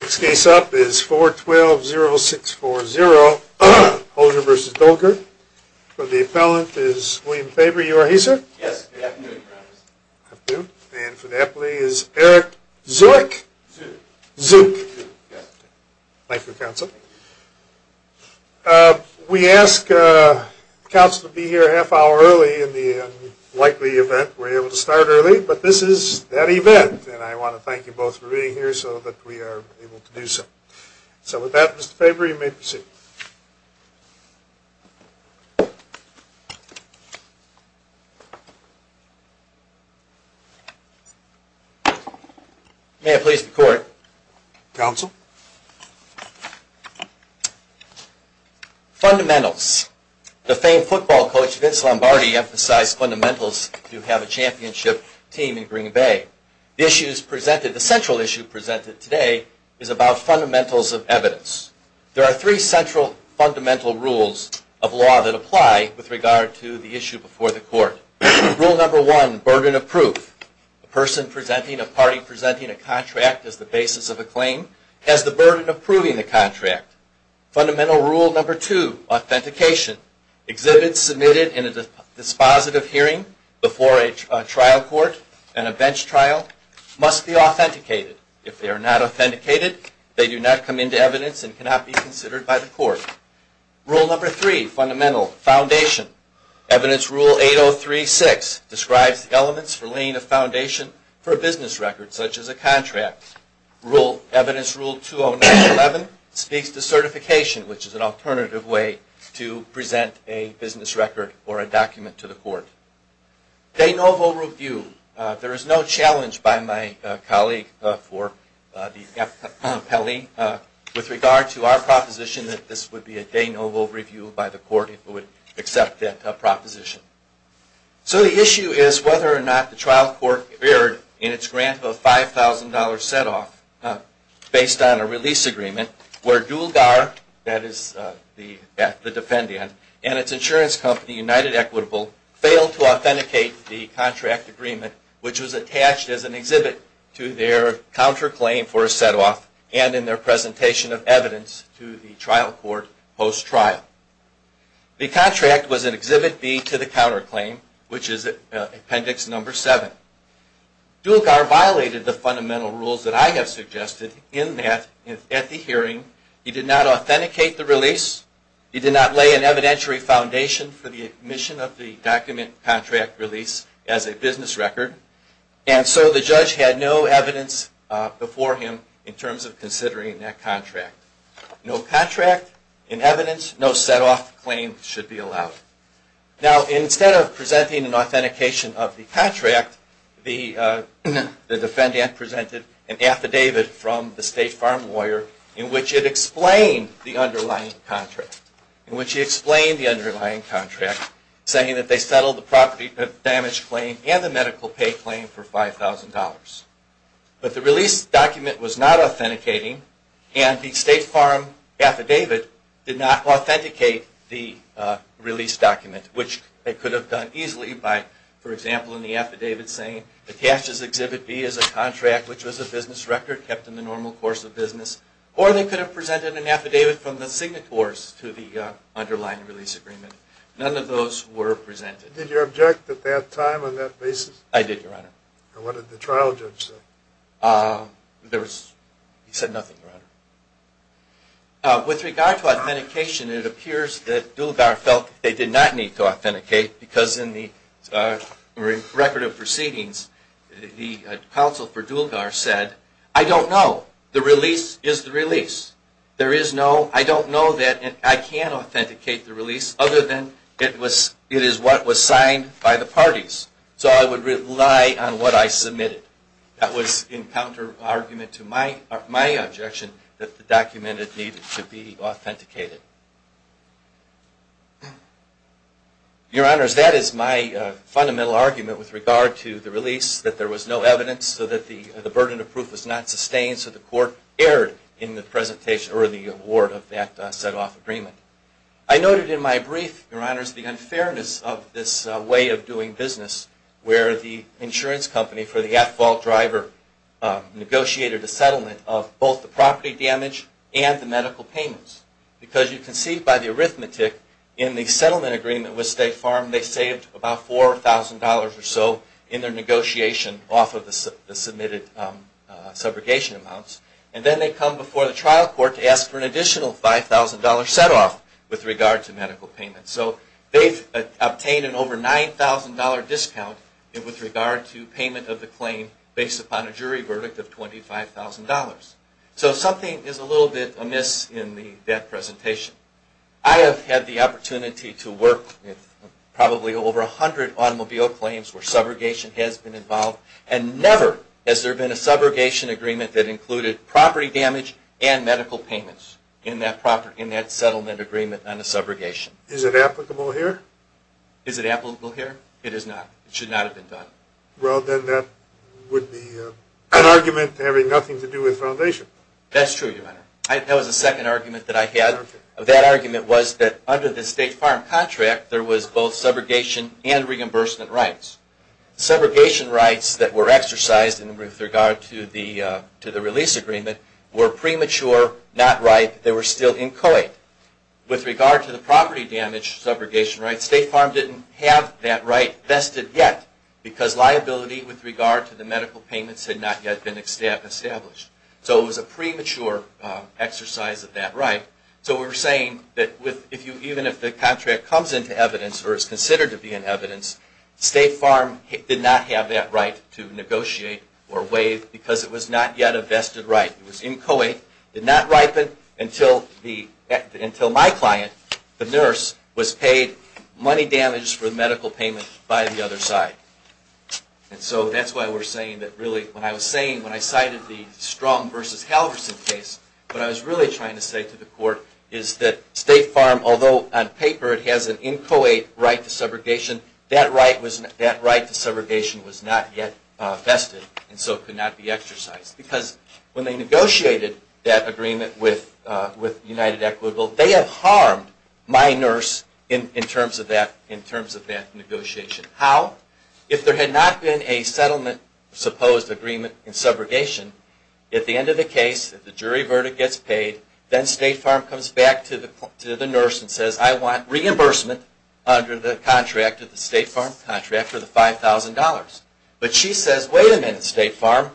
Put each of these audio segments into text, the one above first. Next case up is 4-12-0-6-4-0, Hoiser v. Dulgar. For the appellant is William Faber. You are here, sir? Yes, I am here. And for the appellee is Eric Zueck. Thank you, counsel. We ask counsel to be here a half hour early in the unlikely event we're able to start early, but this is that event. And I want to thank you both for being here so that we are able to do so. So with that, Mr. Faber, you may proceed. May I please be quoried? Counsel? Fundamentals. The famed football coach Vince Lombardi emphasized fundamentals to have a championship team in Green Bay. The central issue presented today is about fundamentals of evidence. There are three central fundamental rules of law that apply with regard to the issue before the court. Rule number one, burden of proof. A person presenting, a party presenting a contract as the basis of a claim has the burden of proving the contract. Fundamental rule number two, authentication. Exhibits submitted in a dispositive hearing before a trial court and a bench trial must be authenticated. If they are not authenticated, they do not come into evidence and cannot be considered by the court. Rule number three, fundamental, foundation. Evidence rule 8036 describes the elements for laying a foundation for a business record such as a contract. Evidence rule 20911 speaks to certification, which is an alternative way to present a business record or a document to the court. De novo review. There is no challenge by my colleague for the FPELI with regard to our proposition that this would be a de novo review by the court if it would accept that proposition. So the issue is whether or not the trial court erred in its grant of a $5,000 set-off based on a release agreement where Dualgar, that is the defendant, and its insurance company United Equitable failed to authenticate the contract agreement, which was attached as an exhibit to their counterclaim for a set-off and in their presentation of evidence to the trial court post-trial. The contract was an exhibit B to the counterclaim, which is appendix number seven. Dualgar violated the fundamental rules that I have suggested in that, at the hearing. He did not authenticate the release. He did not lay an evidentiary foundation for the admission of the document contract release as a business record. And so the judge had no evidence before him in terms of considering that contract. No contract, no evidence, no set-off claim should be allowed. Now instead of presenting an authentication of the contract, the defendant presented an affidavit from the state farm lawyer in which it explained the underlying contract, in which he explained the underlying contract, saying that they settled the property damage claim and the medical pay claim for $5,000. But the release document was not authenticating, and the state farm affidavit did not authenticate the release document, which they could have done easily by, for example, in the affidavit saying, attached as exhibit B is a contract which was a business record kept in the normal course of business. Or they could have presented an affidavit from the signatories to the underlying release agreement. None of those were presented. Did you object at that time on that basis? I did, Your Honor. And what did the trial judge say? There was, he said nothing, Your Honor. With regard to authentication, it appears that Dulgar felt they did not need to authenticate because in the record of proceedings, the counsel for Dulgar said, I don't know. The release is the release. There is no, I don't know that, and I can't authenticate the release other than it is what was signed by the parties. So I would rely on what I submitted. That was in counter argument to my objection that the document needed to be authenticated. Your Honors, that is my fundamental argument with regard to the release, that there was no evidence, so that the burden of proof was not sustained, so the court erred in the presentation or the award of that set-off agreement. I noted in my brief, Your Honors, the unfairness of this way of doing business where the insurance company for the at-fault driver negotiated a settlement of both the property damage and the medical payments. Because you can see by the arithmetic in the settlement agreement with State Farm, they saved about $4,000 or so in their negotiation off of the submitted subrogation amounts, and then they come before the trial court to ask for an additional $5,000 set-off with regard to medical payments. So they've obtained an over $9,000 discount with regard to payment of the claim based upon a jury verdict of $25,000. So something is a little bit amiss in that presentation. I have had the opportunity to work with probably over 100 automobile claims where subrogation has been involved, and never has there been a subrogation agreement that included property damage and medical payments in that settlement agreement on a subrogation. Is it applicable here? Is it applicable here? It is not. It should not have been done. Well, then that would be an argument having nothing to do with Foundation. That's true, Your Honor. That was the second argument that I had. That argument was that under the State Farm contract, there was both subrogation and reimbursement rights. Subrogation rights that were exercised with regard to the release agreement were premature, not ripe, they were still inchoate. With regard to the property damage subrogation rights, State Farm didn't have that right vested yet because liability with regard to the medical payments had not yet been established. So it was a premature exercise of that right. So we're saying that even if the contract comes into evidence or is considered to be in evidence, State Farm did not have that right to negotiate or waive because it was not yet a vested right. It was inchoate, did not ripen until my client, the nurse, was paid money damage for the medical payment by the other side. And so that's why we're saying that really, when I was saying, when I cited the Strum v. Halverson case, what I was really trying to say to the court is that State Farm, although on paper it has an inchoate right to subrogation, that right to subrogation was not yet vested and so could not be exercised. Because when they negotiated that agreement with United Equitable, they have harmed my nurse in terms of that negotiation. How? If there had not been a settlement, supposed agreement in subrogation, at the end of the case, the jury verdict gets paid, then State Farm comes back to the nurse and says, I want reimbursement under the contract of the State Farm contract for the $5,000. But she says, wait a minute, State Farm.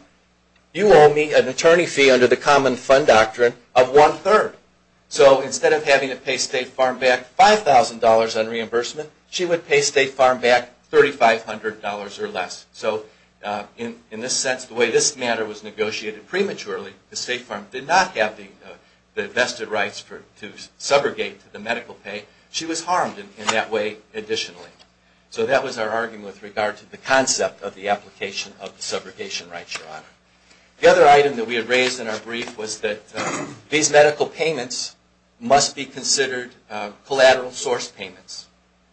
You owe me an attorney fee under the common fund doctrine of one third. So instead of having to pay State Farm back $5,000 on reimbursement, she would pay State Farm back $3,500 or less. So in this sense, the way this matter was negotiated prematurely, the State Farm did not have the vested rights to subrogate to the medical pay. She was harmed in that way additionally. So that was our argument with regard to the concept of the application of the subrogation right, Your Honor. The other item that we had raised in our brief was that these medical payments must be considered collateral source payments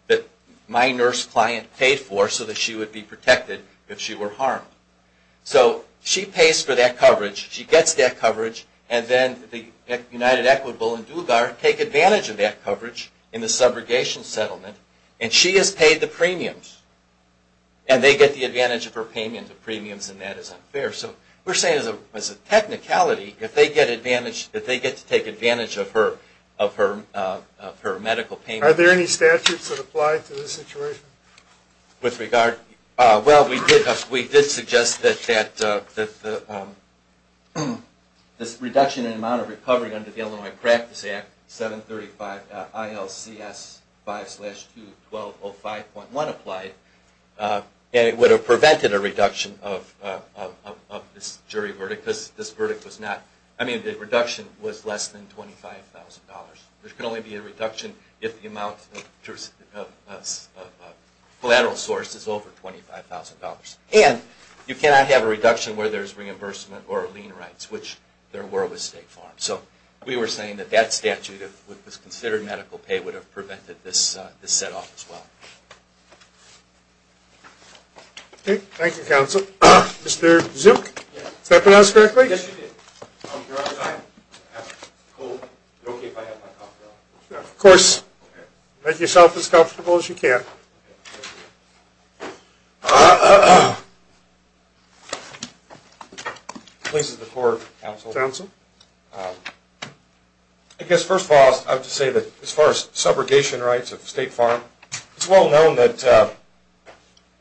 that my nurse client paid for so that she would be protected if she were harmed. So she pays for that coverage. She gets that coverage. And then the United Equitable and Dulgar take advantage of that coverage in the subrogation settlement. And she is paid the premiums. And they get the advantage of her payment of premiums, and that is unfair. So we are saying as a technicality, if they get advantage, if they get to take advantage of her medical payment. Are there any statutes that apply to this situation? With regard, well, we did suggest that this reduction in amount of recovery under the Illinois Practice Act, 735 ILCS 5-2-1205.1 applied. And it would have prevented a reduction of this jury verdict because this verdict was not, I mean, the reduction was less than $25,000. There can only be a reduction if the amount of collateral source is over $25,000. And you cannot have a reduction where there is reimbursement or lien rights, which there were with State Farm. So we were saying that that statute, if it was considered medical pay, would have prevented this set off as well. Okay, thank you, counsel. Mr. Zook, did I pronounce correctly? Yes, you did. You're on time. Of course, make yourself as comfortable as you can. Please, the floor, counsel. I guess, first of all, I would just say that as far as subrogation rights of State Farm, it's well known that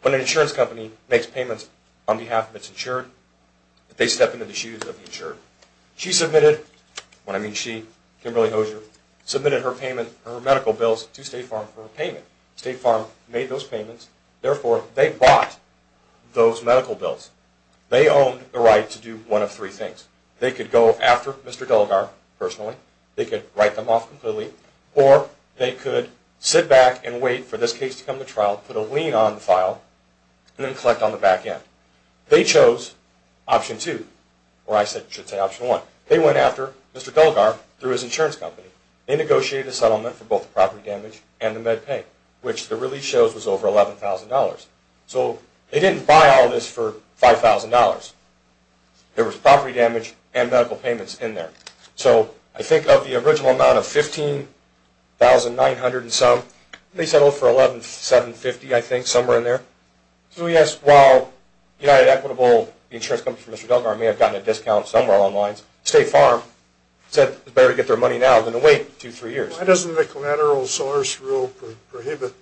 when an insurance company makes payments on behalf of its insured, they step into the shoes of the insured. She submitted, and I mean she, Kimberly Hosier, submitted her medical bills to State Farm for payment. State Farm made those payments. Therefore, they bought those medical bills. They owned the right to do one of three things. They could go after Mr. Delgar personally. They could write them off completely. Or they could sit back and wait for this case to come to trial, put a lien on the file, and then collect on the back end. They chose option two, or I should say option one. They went after Mr. Delgar through his insurance company. They negotiated a settlement for both the property damage and the med pay, which the release shows was over $11,000. So they didn't buy all this for $5,000. There was property damage and medical payments in there. So I think of the original amount of $15,900 and some, they settled for $11,750 I think, somewhere in there. So yes, while United Equitable, the insurance company from Mr. Delgar, may have gotten a discount somewhere along the lines, State Farm said it's better to get their money now than to wait two, three years. Why doesn't the collateral source rule prohibit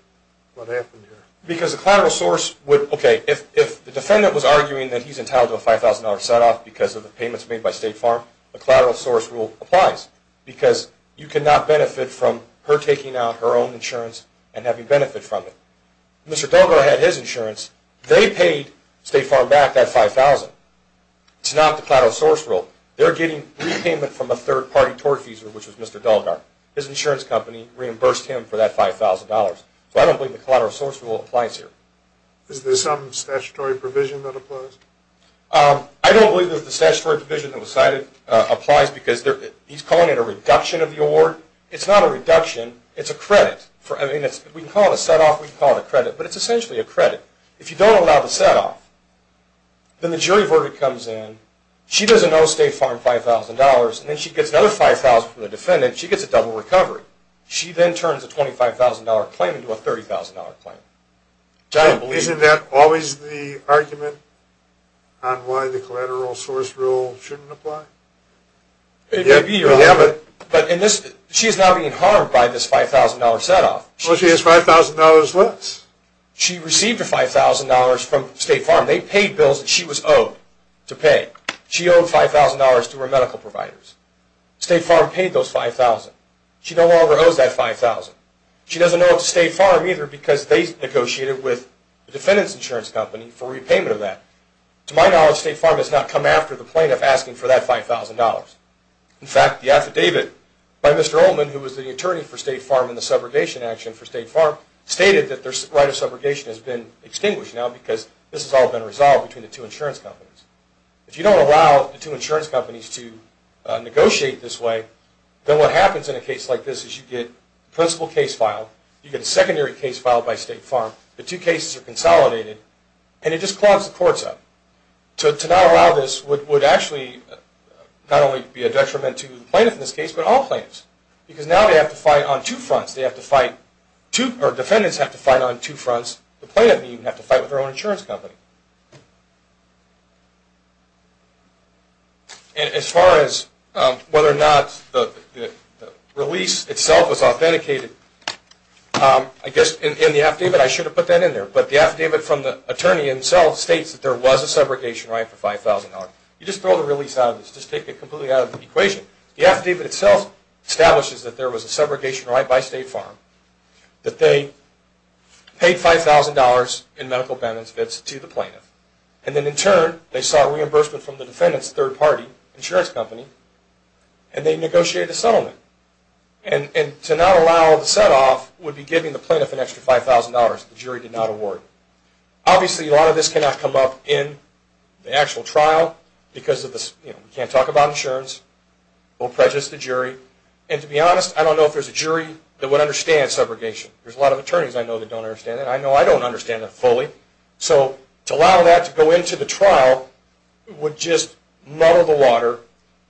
what happened here? Because the collateral source would, okay, if the defendant was arguing that he's entitled to a $5,000 set-off because of the payments made by State Farm, the collateral source rule applies. Because you cannot benefit from her taking out her own insurance and having benefit from it. Mr. Delgar had his insurance. They paid State Farm back that $5,000. It's not the collateral source rule. They're getting repayment from a third-party tortfeasor, which was Mr. Delgar. His insurance company reimbursed him for that $5,000. So I don't believe the collateral source rule applies here. Is there some statutory provision that applies? I don't believe there's a statutory provision that applies because he's calling it a reduction of the award. It's not a reduction. It's a credit. I mean, we can call it a set-off. We can call it a credit. But it's essentially a credit. If you don't allow the set-off, then the jury verdict comes in. She doesn't owe State Farm $5,000, and then she gets another $5,000 from the defendant. She gets a double recovery. She then turns a $25,000 claim into a $30,000 claim. I don't believe that. Isn't that always the argument on why the collateral source rule shouldn't apply? It may be, but she is now being harmed by this $5,000 set-off. Well, she has $5,000 less. She received her $5,000 from State Farm. They paid bills that she was owed to pay. She owed $5,000 to her medical providers. State Farm paid those $5,000. She no longer owes that $5,000. She doesn't owe it to State Farm either because they negotiated with the defendant's insurance company for repayment of that. To my knowledge, State Farm has not come after the plaintiff asking for that $5,000. In fact, the affidavit by Mr. Ullman, who was the attorney for State Farm in the subrogation action for State Farm, stated that their right of subrogation has been extinguished now because this has all been resolved between the two insurance companies. If you don't allow the two insurance companies to negotiate this way, then what happens in a case like this is you get a principal case filed, you get a secondary case filed by State Farm, the two cases are consolidated, and it just clogs the courts up. To not allow this would actually not only be a detriment to the plaintiff in this case, but all plaintiffs because now they have to fight on two fronts. Defendants have to fight on two fronts. The plaintiff would even have to fight with her own insurance company. As far as whether or not the release itself was authenticated, I guess in the affidavit, I should have put that in there, but the affidavit from the attorney himself states that there was a subrogation right for $5,000. You just throw the release out of this. Just take it completely out of the equation. The affidavit itself establishes that there was a subrogation right by State Farm, and then in turn they sought reimbursement from the defendant's third-party insurance company, and they negotiated a settlement. To not allow the set-off would be giving the plaintiff an extra $5,000 the jury did not award. Obviously, a lot of this cannot come up in the actual trial because we can't talk about insurance. It will prejudice the jury. To be honest, I don't know if there's a jury that would understand subrogation. There's a lot of attorneys I know that don't understand it. I know I don't understand it fully. To allow that to go into the trial would just muddle the water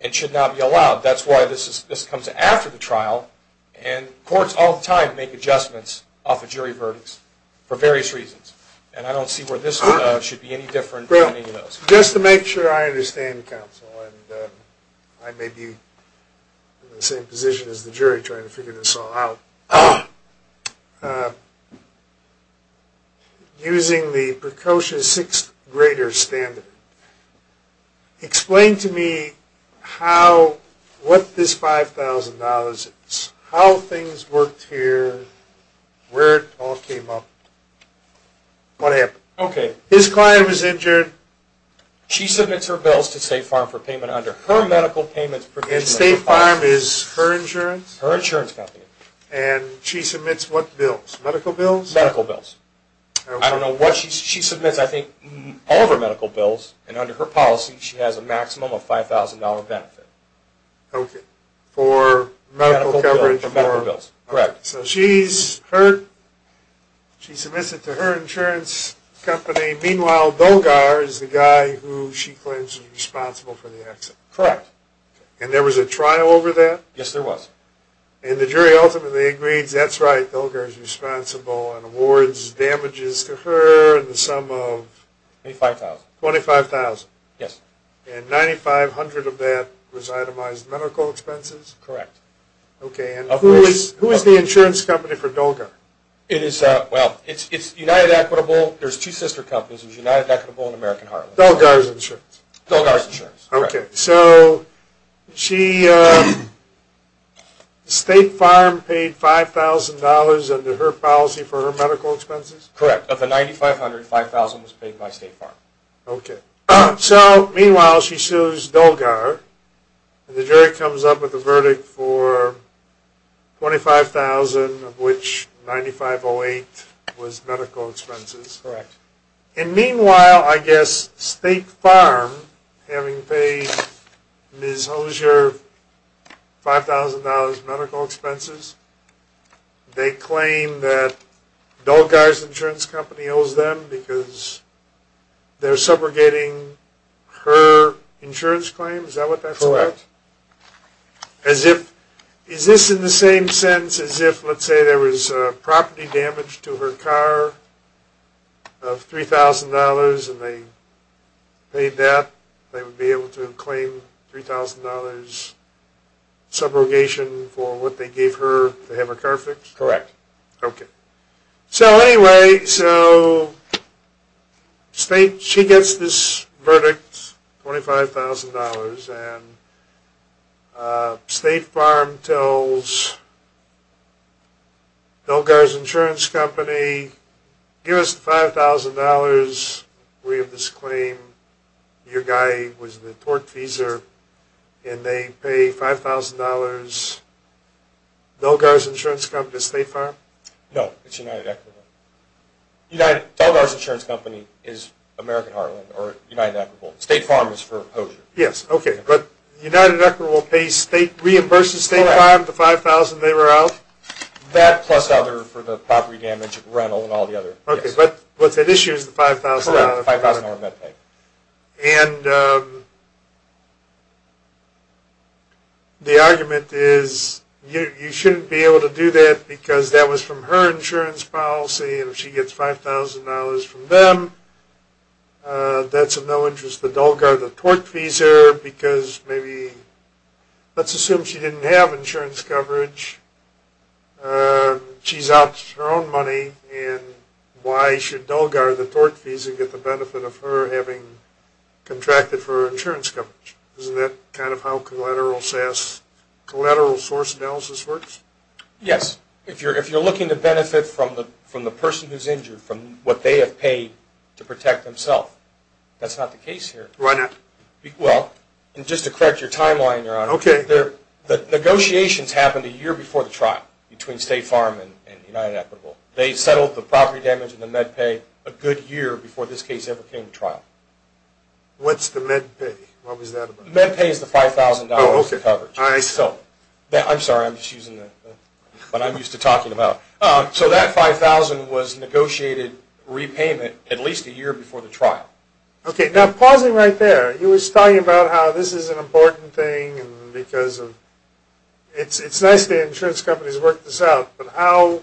and should not be allowed. That's why this comes after the trial, and courts all the time make adjustments off of jury verdicts for various reasons. I don't see where this should be any different from any of those. Just to make sure I understand, counsel, and I may be in the same position as the jury trying to figure this all out, using the precocious sixth-grader standard, explain to me what this $5,000 is, how things worked here, where it all came up, what happened. Okay. His client was injured. She submits her bills to State Farm for payment under her medical payments provision. And State Farm is her insurance? Her insurance company. Okay. And she submits what bills? Medical bills? Medical bills. Okay. I don't know what she submits. I think all of her medical bills, and under her policy, she has a maximum of $5,000 benefit. Okay. For medical coverage. For medical bills. Correct. So she's hurt. She submits it to her insurance company. Meanwhile, Dolgar is the guy who she claims is responsible for the accident. Correct. And there was a trial over that? Yes, there was. And the jury ultimately agrees that's right, Dolgar is responsible and awards damages to her in the sum of? $25,000. $25,000. Yes. And $9,500 of that was itemized medical expenses? Correct. Okay. And who is the insurance company for Dolgar? Well, it's United Equitable. There's two sister companies. There's United Equitable and American Heartland. Dolgar's insurance? Dolgar's insurance. Okay. So State Farm paid $5,000 under her policy for her medical expenses? Correct. Of the $9,500, $5,000 was paid by State Farm. Okay. So, meanwhile, she sues Dolgar. The jury comes up with a verdict for $25,000 of which $9,508 was medical expenses. Correct. And, meanwhile, I guess State Farm, having paid Ms. Hosier $5,000 medical expenses, they claim that Dolgar's insurance company owes them because they're subrogating her insurance claim? Is that what that's about? Correct. Is this in the same sense as if, let's say, there was property damage to her car of $3,000 and they paid that, they would be able to claim $3,000 subrogation for what they gave her to have her car fixed? Correct. Okay. So, anyway, so State, she gets this verdict, $25,000, and State Farm tells Dolgar's insurance company, give us the $5,000, we have this claim, your guy was the tortfeasor, and they pay $5,000. Dolgar's insurance company is State Farm? No, it's United Equitable. Dolgar's insurance company is American Heartland or United Equitable. State Farm is for Hosier. Yes, okay. But United Equitable reimburses State Farm the $5,000 they were out? That plus other for the property damage, rental, and all the other. Okay. But what's at issue is the $5,000? Correct, $5,000 med pay. And the argument is you shouldn't be able to do that because that was from her insurance policy, and if she gets $5,000 from them, that's of no interest to Dolgar the tortfeasor, because maybe, let's assume she didn't have insurance coverage, she's out to her own money, and why should Dolgar the tortfeasor get the benefit of her having contracted for her insurance coverage? Isn't that kind of how collateral source analysis works? Yes. If you're looking to benefit from the person who's injured, from what they have paid to protect themselves, that's not the case here. Why not? Well, and just to correct your timeline, Your Honor, the negotiations happened a year before the trial between State Farm and United Equitable. They settled the property damage and the med pay a good year before this case ever came to trial. What's the med pay? What was that about? Med pay is the $5,000 of coverage. I see. I'm sorry, I'm just using what I'm used to talking about. So that $5,000 was negotiated repayment at least a year before the trial. Okay, now pausing right there, you were just talking about how this is an important thing, because it's nice that insurance companies work this out, but how,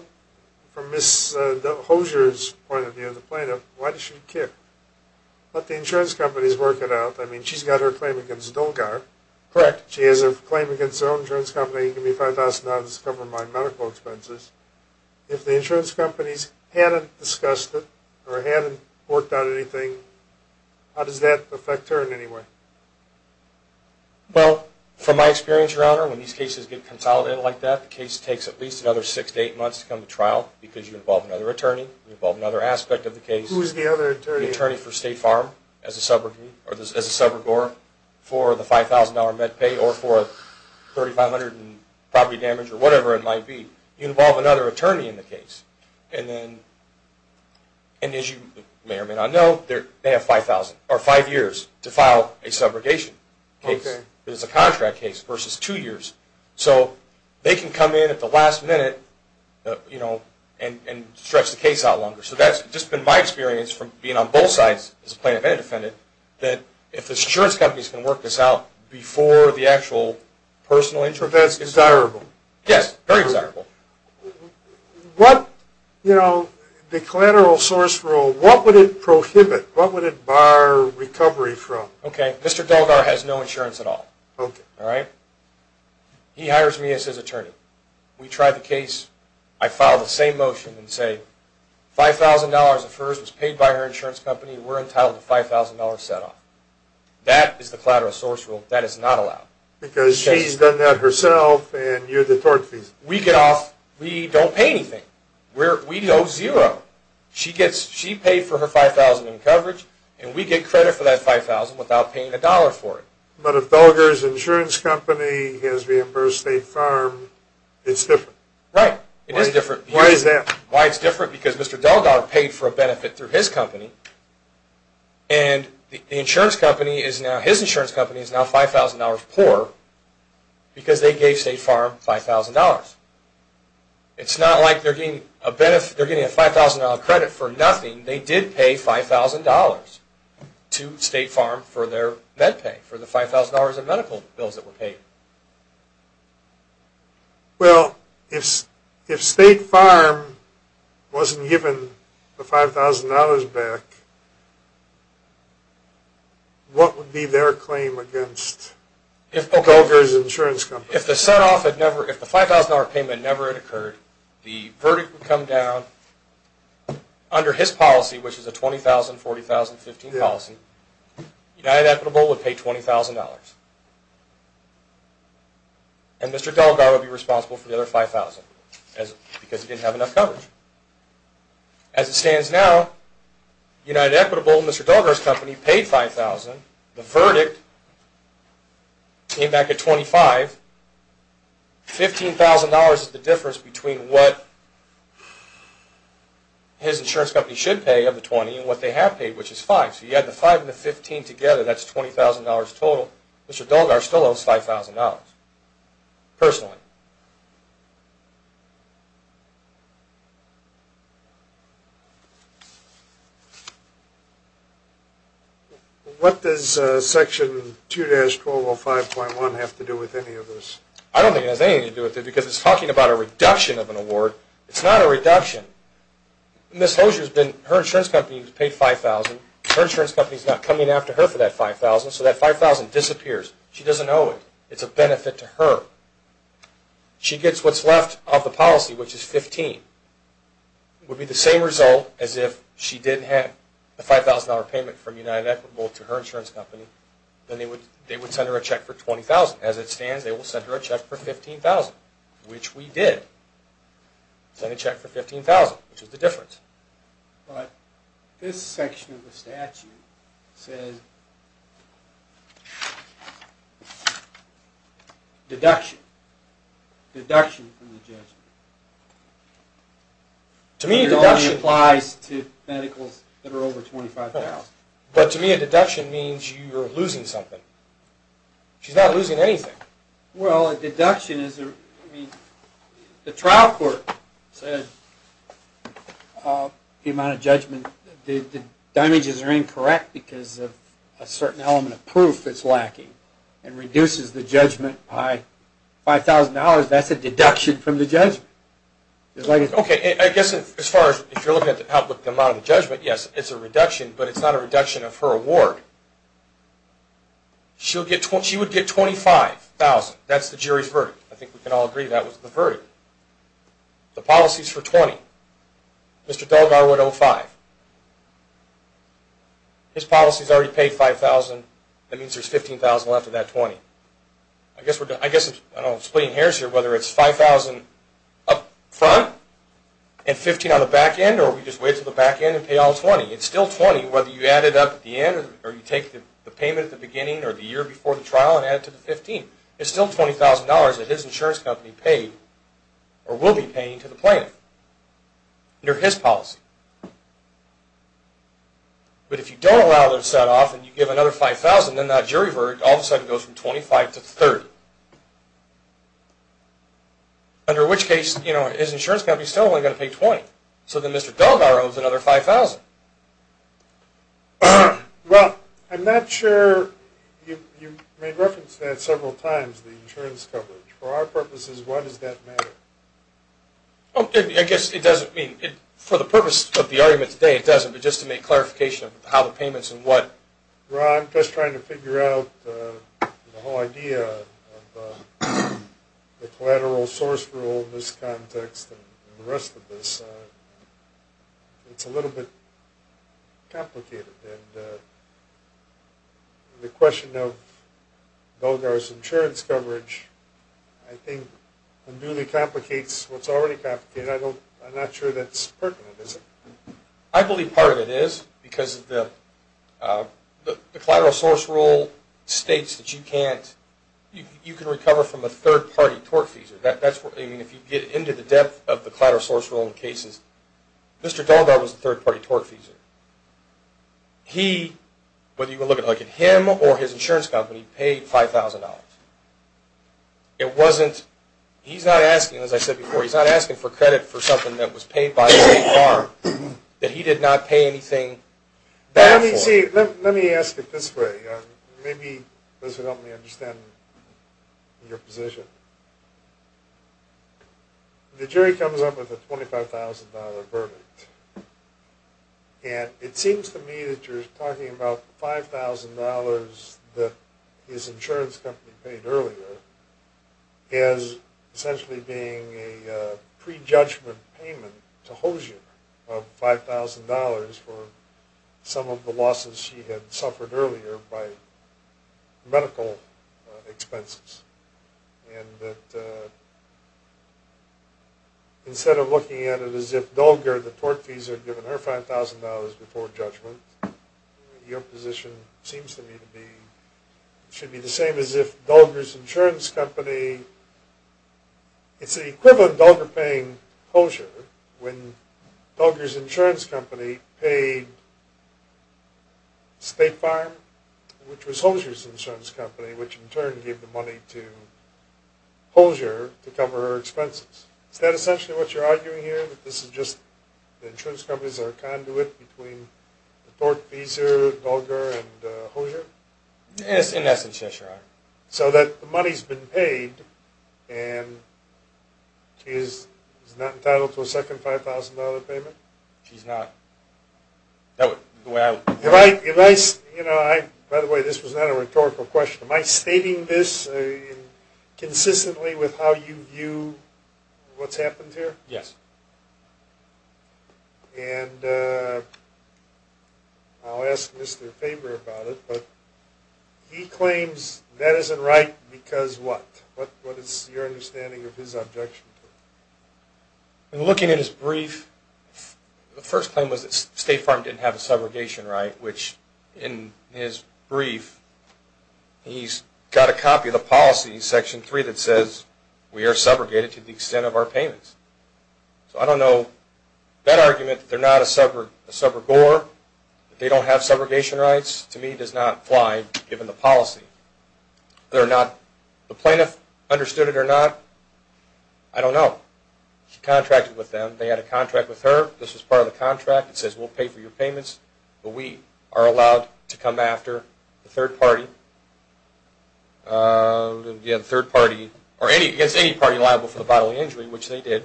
from Ms. Hosier's point of view, the plaintiff, why does she care? Let the insurance companies work it out. I mean, she's got her claim against Dolgar. Correct. She has a claim against her own insurance company, give me $5,000 to cover my medical expenses. If the insurance companies hadn't discussed it or hadn't worked out anything, how does that affect her in any way? Well, from my experience, Your Honor, when these cases get consolidated like that, the case takes at least another six to eight months to come to trial because you involve another attorney, you involve another aspect of the case. Who is the other attorney? The attorney for State Farm as a subrogate or as a subrogore for the $5,000 med pay or for 3,500 in property damage or whatever it might be. You involve another attorney in the case. And as you may or may not know, they have five years to file a subrogation case. Okay. It's a contract case versus two years. So they can come in at the last minute and stretch the case out longer. So that's just been my experience from being on both sides as a plaintiff and a defendant that if the insurance companies can work this out before the actual personal intervention. That's desirable. Yes, very desirable. What, you know, the collateral source rule, what would it prohibit? What would it bar recovery from? Okay. Mr. Delgar has no insurance at all. Okay. All right? He hires me as his attorney. We try the case. I file the same motion and say $5,000 of hers was paid by her insurance company. We're entitled to $5,000 set off. That is the collateral source rule. That is not allowed. Because she's done that herself and you're the tort defendant. We get off. We don't pay anything. We owe zero. She paid for her $5,000 in coverage, and we get credit for that $5,000 without paying a dollar for it. But if Delgar's insurance company has reimbursed State Farm, it's different. Right. It is different. Why is that? Why it's different because Mr. Delgar paid for a benefit through his company, and his insurance company is now $5,000 poorer because they gave State Farm $5,000. It's not like they're getting a $5,000 credit for nothing. They did pay $5,000 to State Farm for their med pay, for the $5,000 of medical bills that were paid. Well, if State Farm wasn't given the $5,000 back, what would be their claim against Delgar's insurance company? If the $5,000 payment never had occurred, the verdict would come down under his policy, which is a $20,000, $40,000, $15,000 policy. United Equitable would pay $20,000, and Mr. Delgar would be responsible for the other $5,000 because he didn't have enough coverage. As it stands now, United Equitable and Mr. Delgar's company paid $5,000. The verdict came back at $25,000. $15,000 is the difference between what his insurance company should pay of the $20,000 and what they have paid, which is $5,000. So you add the $5,000 and the $15,000 together, that's $20,000 total. Mr. Delgar still owes $5,000 personally. What does Section 2-1205.1 have to do with any of this? I don't think it has anything to do with it because it's talking about a reduction of an award. It's not a reduction. Ms. Hosier's insurance company has paid $5,000. Her insurance company is not coming after her for that $5,000, so that $5,000 disappears. She doesn't owe it. It's a benefit to her. She gets what's left of the policy, which is $15,000. It would be the same result as if she did have a $5,000 payment from United Equitable to her insurance company. Then they would send her a check for $20,000. As it stands, they will send her a check for $15,000, which we did. We sent a check for $15,000, which is the difference. This section of the statute says, deduction. Deduction from the judgment. To me, a deduction applies to medicals that are over $25,000. But to me, a deduction means you're losing something. She's not losing anything. Well, a deduction is... The trial court said the amount of judgment... the damages are incorrect because of a certain element of proof that's lacking. It reduces the judgment by $5,000. That's a deduction from the judgment. Okay, I guess as far as... if you're looking at the amount of the judgment, yes, it's a reduction. But it's not a reduction of her award. She would get $25,000. That's the jury's verdict. I think we can all agree that was the verdict. The policy's for $20,000. Mr. Delgar would owe $5,000. His policy's already paid $5,000. That means there's $15,000 left of that $20,000. I guess I'm splitting hairs here. Whether it's $5,000 up front and $15,000 on the back end, or we just wait until the back end and pay all $20,000. It's still $20,000 whether you add it up at the end or you take the payment at the beginning or the year before the trial and add it to the $15,000. It's still $20,000 that his insurance company paid or will be paying to the plaintiff under his policy. But if you don't allow their set-off and you give another $5,000, then that jury verdict all of a sudden goes from $25,000 to $30,000. So then Mr. Delgar owes another $5,000. Well, I'm not sure... You made reference to that several times, the insurance coverage. For our purposes, why does that matter? I guess it doesn't mean... For the purpose of the argument today, it doesn't, but just to make clarification of how the payments and what... Well, I'm just trying to figure out the whole idea of the collateral source rule in this context and the rest of this. It's a little bit complicated. And the question of Delgar's insurance coverage, I think, unduly complicates what's already complicated. I'm not sure that's pertinent, is it? I believe part of it is because the collateral source rule states that you can't... You can recover from a third-party tort fees. I mean, if you get into the depth of the collateral source rule in cases, Mr. Delgar was a third-party tort feeser. He, whether you were looking at him or his insurance company, paid $5,000. It wasn't... He's not asking, as I said before, he's not asking for credit for something that was paid by the state farm that he did not pay anything back for. Let me ask it this way. Maybe this will help me understand your position. The jury comes up with a $25,000 verdict. And it seems to me that you're talking about $5,000 that his insurance company paid earlier as essentially being a prejudgment payment to Hozier of $5,000 for some of the losses she had suffered earlier by medical expenses. And that instead of looking at it as if Delgar, the tort feeser, had given her $5,000 before judgment, your position seems to me to be... should be the same as if Delgar's insurance company... It's the equivalent of Delgar paying Hozier when Delgar's insurance company paid state farm, which was Hozier's insurance company, which in turn gave the money to Hozier to cover her expenses. Is that essentially what you're arguing here? That this is just... the insurance companies are a conduit between the tort feeser, Delgar, and Hozier? So that the money's been paid and she's not entitled to a second $5,000 payment? She's not. By the way, this was not a rhetorical question. Am I stating this consistently with how you view what's happened here? Yes. And I'll ask Mr. Faber about it, but he claims that isn't right because what? What is your understanding of his objection? In looking at his brief, the first claim was that state farm didn't have a subrogation right, which in his brief, he's got a copy of the policy, section 3, that says we are subrogated to the extent of our payments. So I don't know... that argument, that they're not a subrogor, that they don't have subrogation rights, to me does not apply given the policy. The plaintiff understood it or not, I don't know. She contracted with them. They had a contract with her. This was part of the contract. It says we'll pay for your payments, but we are allowed to come after the third party or against any party liable for the bodily injury, which they did.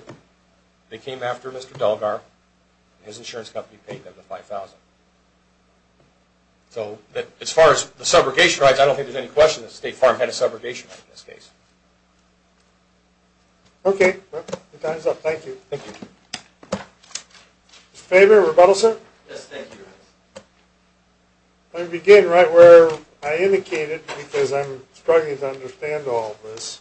They came after Mr. Delgar. His insurance company paid them the $5,000. So as far as the subrogation rights, I don't think there's any question that state farm had a subrogation right in this case. Okay. Time's up. Thank you. Mr. Faber, rebuttal, sir? I begin right where I indicated because I'm struggling to understand all this.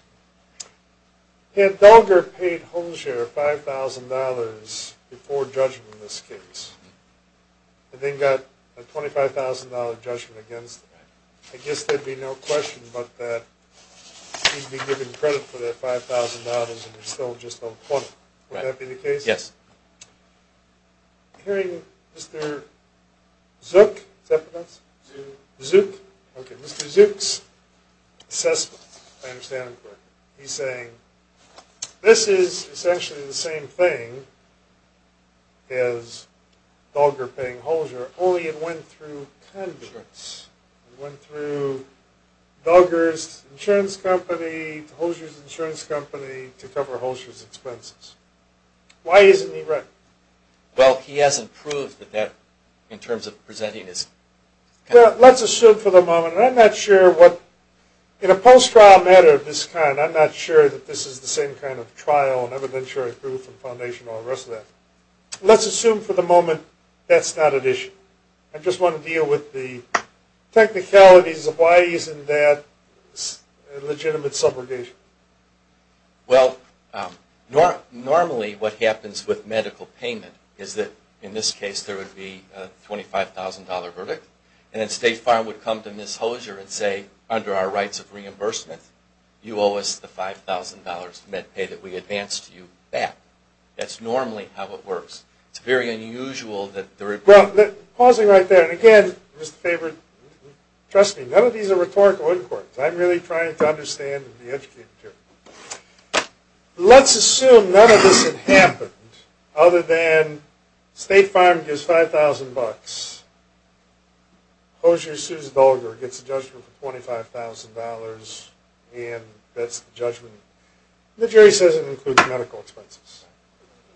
Had Delgar paid Holmshire $5,000 before judgment in this case and then got a $25,000 judgment against them, I guess there'd be no question about that he'd be given credit for that $5,000 and they're still just unquotable. Would that be the case? Yes. I'm hearing Mr. Zook Mr. Zook's assessment He's saying this is essentially the same thing as Delgar paying Holmshire only it went through Congress. It went through Delgar's insurance company to Holmshire's insurance company to cover Holmshire's expenses. Why isn't he right? Well, he hasn't proved that in terms of presenting his... Well, let's assume for the moment In a post-trial matter of this kind I'm not sure that this is the same kind of trial and evidentiary proof and foundation and all the rest of that. Let's assume for the moment that's not at issue. I just want to deal with the technicalities of why he's in that legitimate subrogation. Well, normally what happens with medical payment is that in this case there would be a $25,000 verdict and then State Farm would come to Ms. Hosier and say under our rights of reimbursement you owe us the $5,000 med pay that we advanced to you back. That's normally how it works. It's very unusual that there would be... Well, pausing right there, and again trust me, none of these are rhetorical in courts. I'm really trying to understand and be educated here. Let's assume none of this had happened other than State Farm gives $5,000 Hosier sues Volger gets a judgment for $25,000 and that's the judgment. The jury says it includes medical expenses.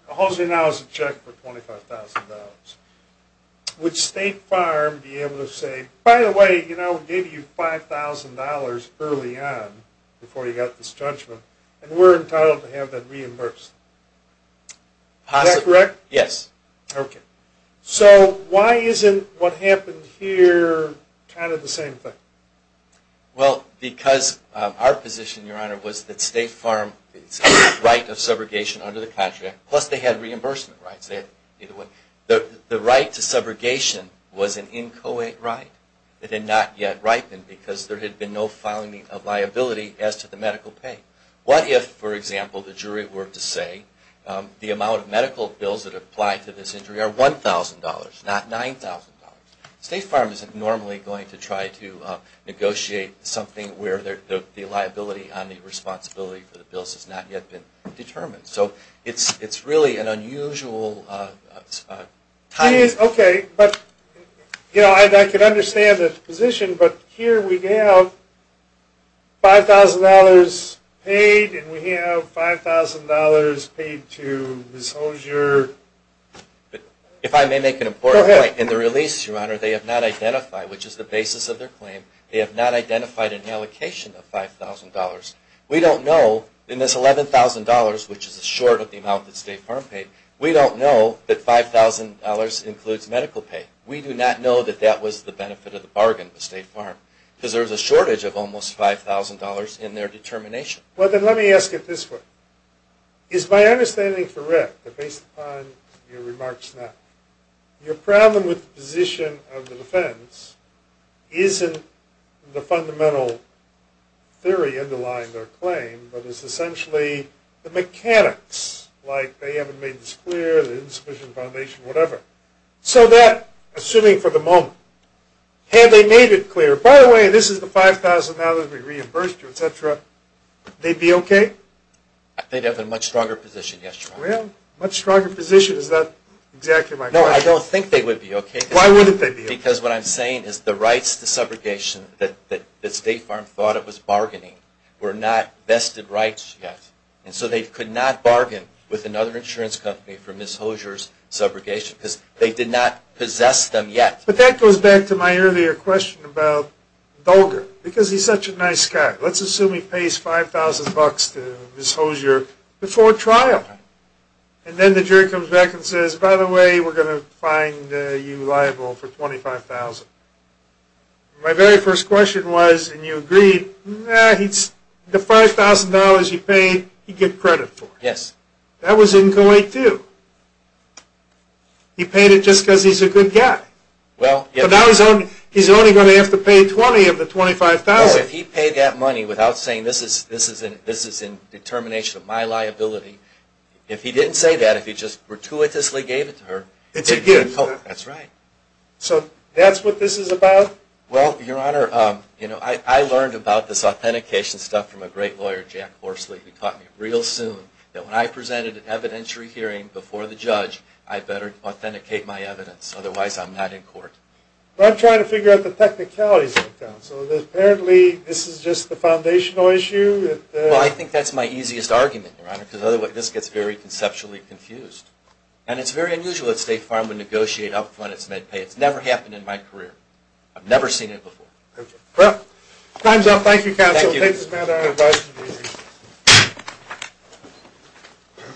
Hosier now has a check for $25,000. Would State Farm be able to say by the way, we gave you $5,000 early on before you got this judgment and we're entitled to have that reimbursed? Is that correct? Yes. So why isn't what happened here kind of the same thing? Well, because our position, Your Honor, was that State Farm's right of subrogation under the contract plus they had reimbursement rights. The right to subrogation was an inchoate right that had not yet ripened because there had been no liability as to the medical pay. What if, for example, the jury were to say the amount of medical bills that apply to this injury are $1,000, not $9,000? State Farm isn't normally going to try to negotiate something where the liability on the responsibility for the bills has not yet been determined. So it's really an unusual time. I can understand the position but here we have $5,000 paid and we have $5,000 paid to Ms. Hozier. If I may make an important point, in the release, Your Honor, they have not identified, which is the basis of their claim, they have not identified an allocation of $5,000. We don't know, in this $11,000, which is short of the amount that State Farm paid, we don't know that $5,000 includes medical pay. We do not know that that was the benefit of the bargain with State Farm because there is a shortage of almost $5,000 in their determination. Well, then let me ask it this way. Is my understanding correct that based upon your remarks now, your problem with the position of the defense isn't the fundamental theory underlying their claim but is essentially the mechanics, like they haven't made this clear, the insufficient foundation, whatever. So that, assuming for the moment, had they made it clear, by the way, this is the $5,000 we reimbursed you, etc., they'd be okay? They'd have a much stronger position, yes, Your Honor. Well, much stronger position, is that exactly my question? No, I don't think they would be okay. Why wouldn't they be okay? Because what I'm saying is the rights to subrogation that State Farm thought it was bargaining were not vested rights yet. And so they could not bargain with another insurance company for Ms. Hosier's subrogation because they did not possess them yet. But that goes back to my earlier question about Dulger because he's such a nice guy. Let's assume he pays $5,000 to Ms. Hosier before trial. And then the jury comes back and says, by the way, we're going to find you liable for $25,000. My very first question was, and you agreed, the $5,000 he paid he'd get credit for. That was in Kuwait too. He paid it just because he's a good guy. But now he's only going to have to pay 20 of the $25,000. Well, if he paid that money without saying this is in determination of my liability, if he didn't say that, if he just gratuitously gave it to her... It's a gift. So that's what this is about? Well, Your Honor, I learned about this authentication stuff from a great lawyer, Jack Horsley, who taught me real soon that when I presented an evidentiary hearing before the judge, I better authenticate my evidence. Otherwise I'm not in court. But I'm trying to figure out the technicalities of it. So apparently this is just the foundational issue? Well, I think that's my easiest argument, Your Honor. Because otherwise this gets very conceptually confused. And it's very unusual that State Farm would negotiate up front its med pay. It's never happened in my career. I've never seen it before. Well, time's up. Thank you, counsel. Thank you.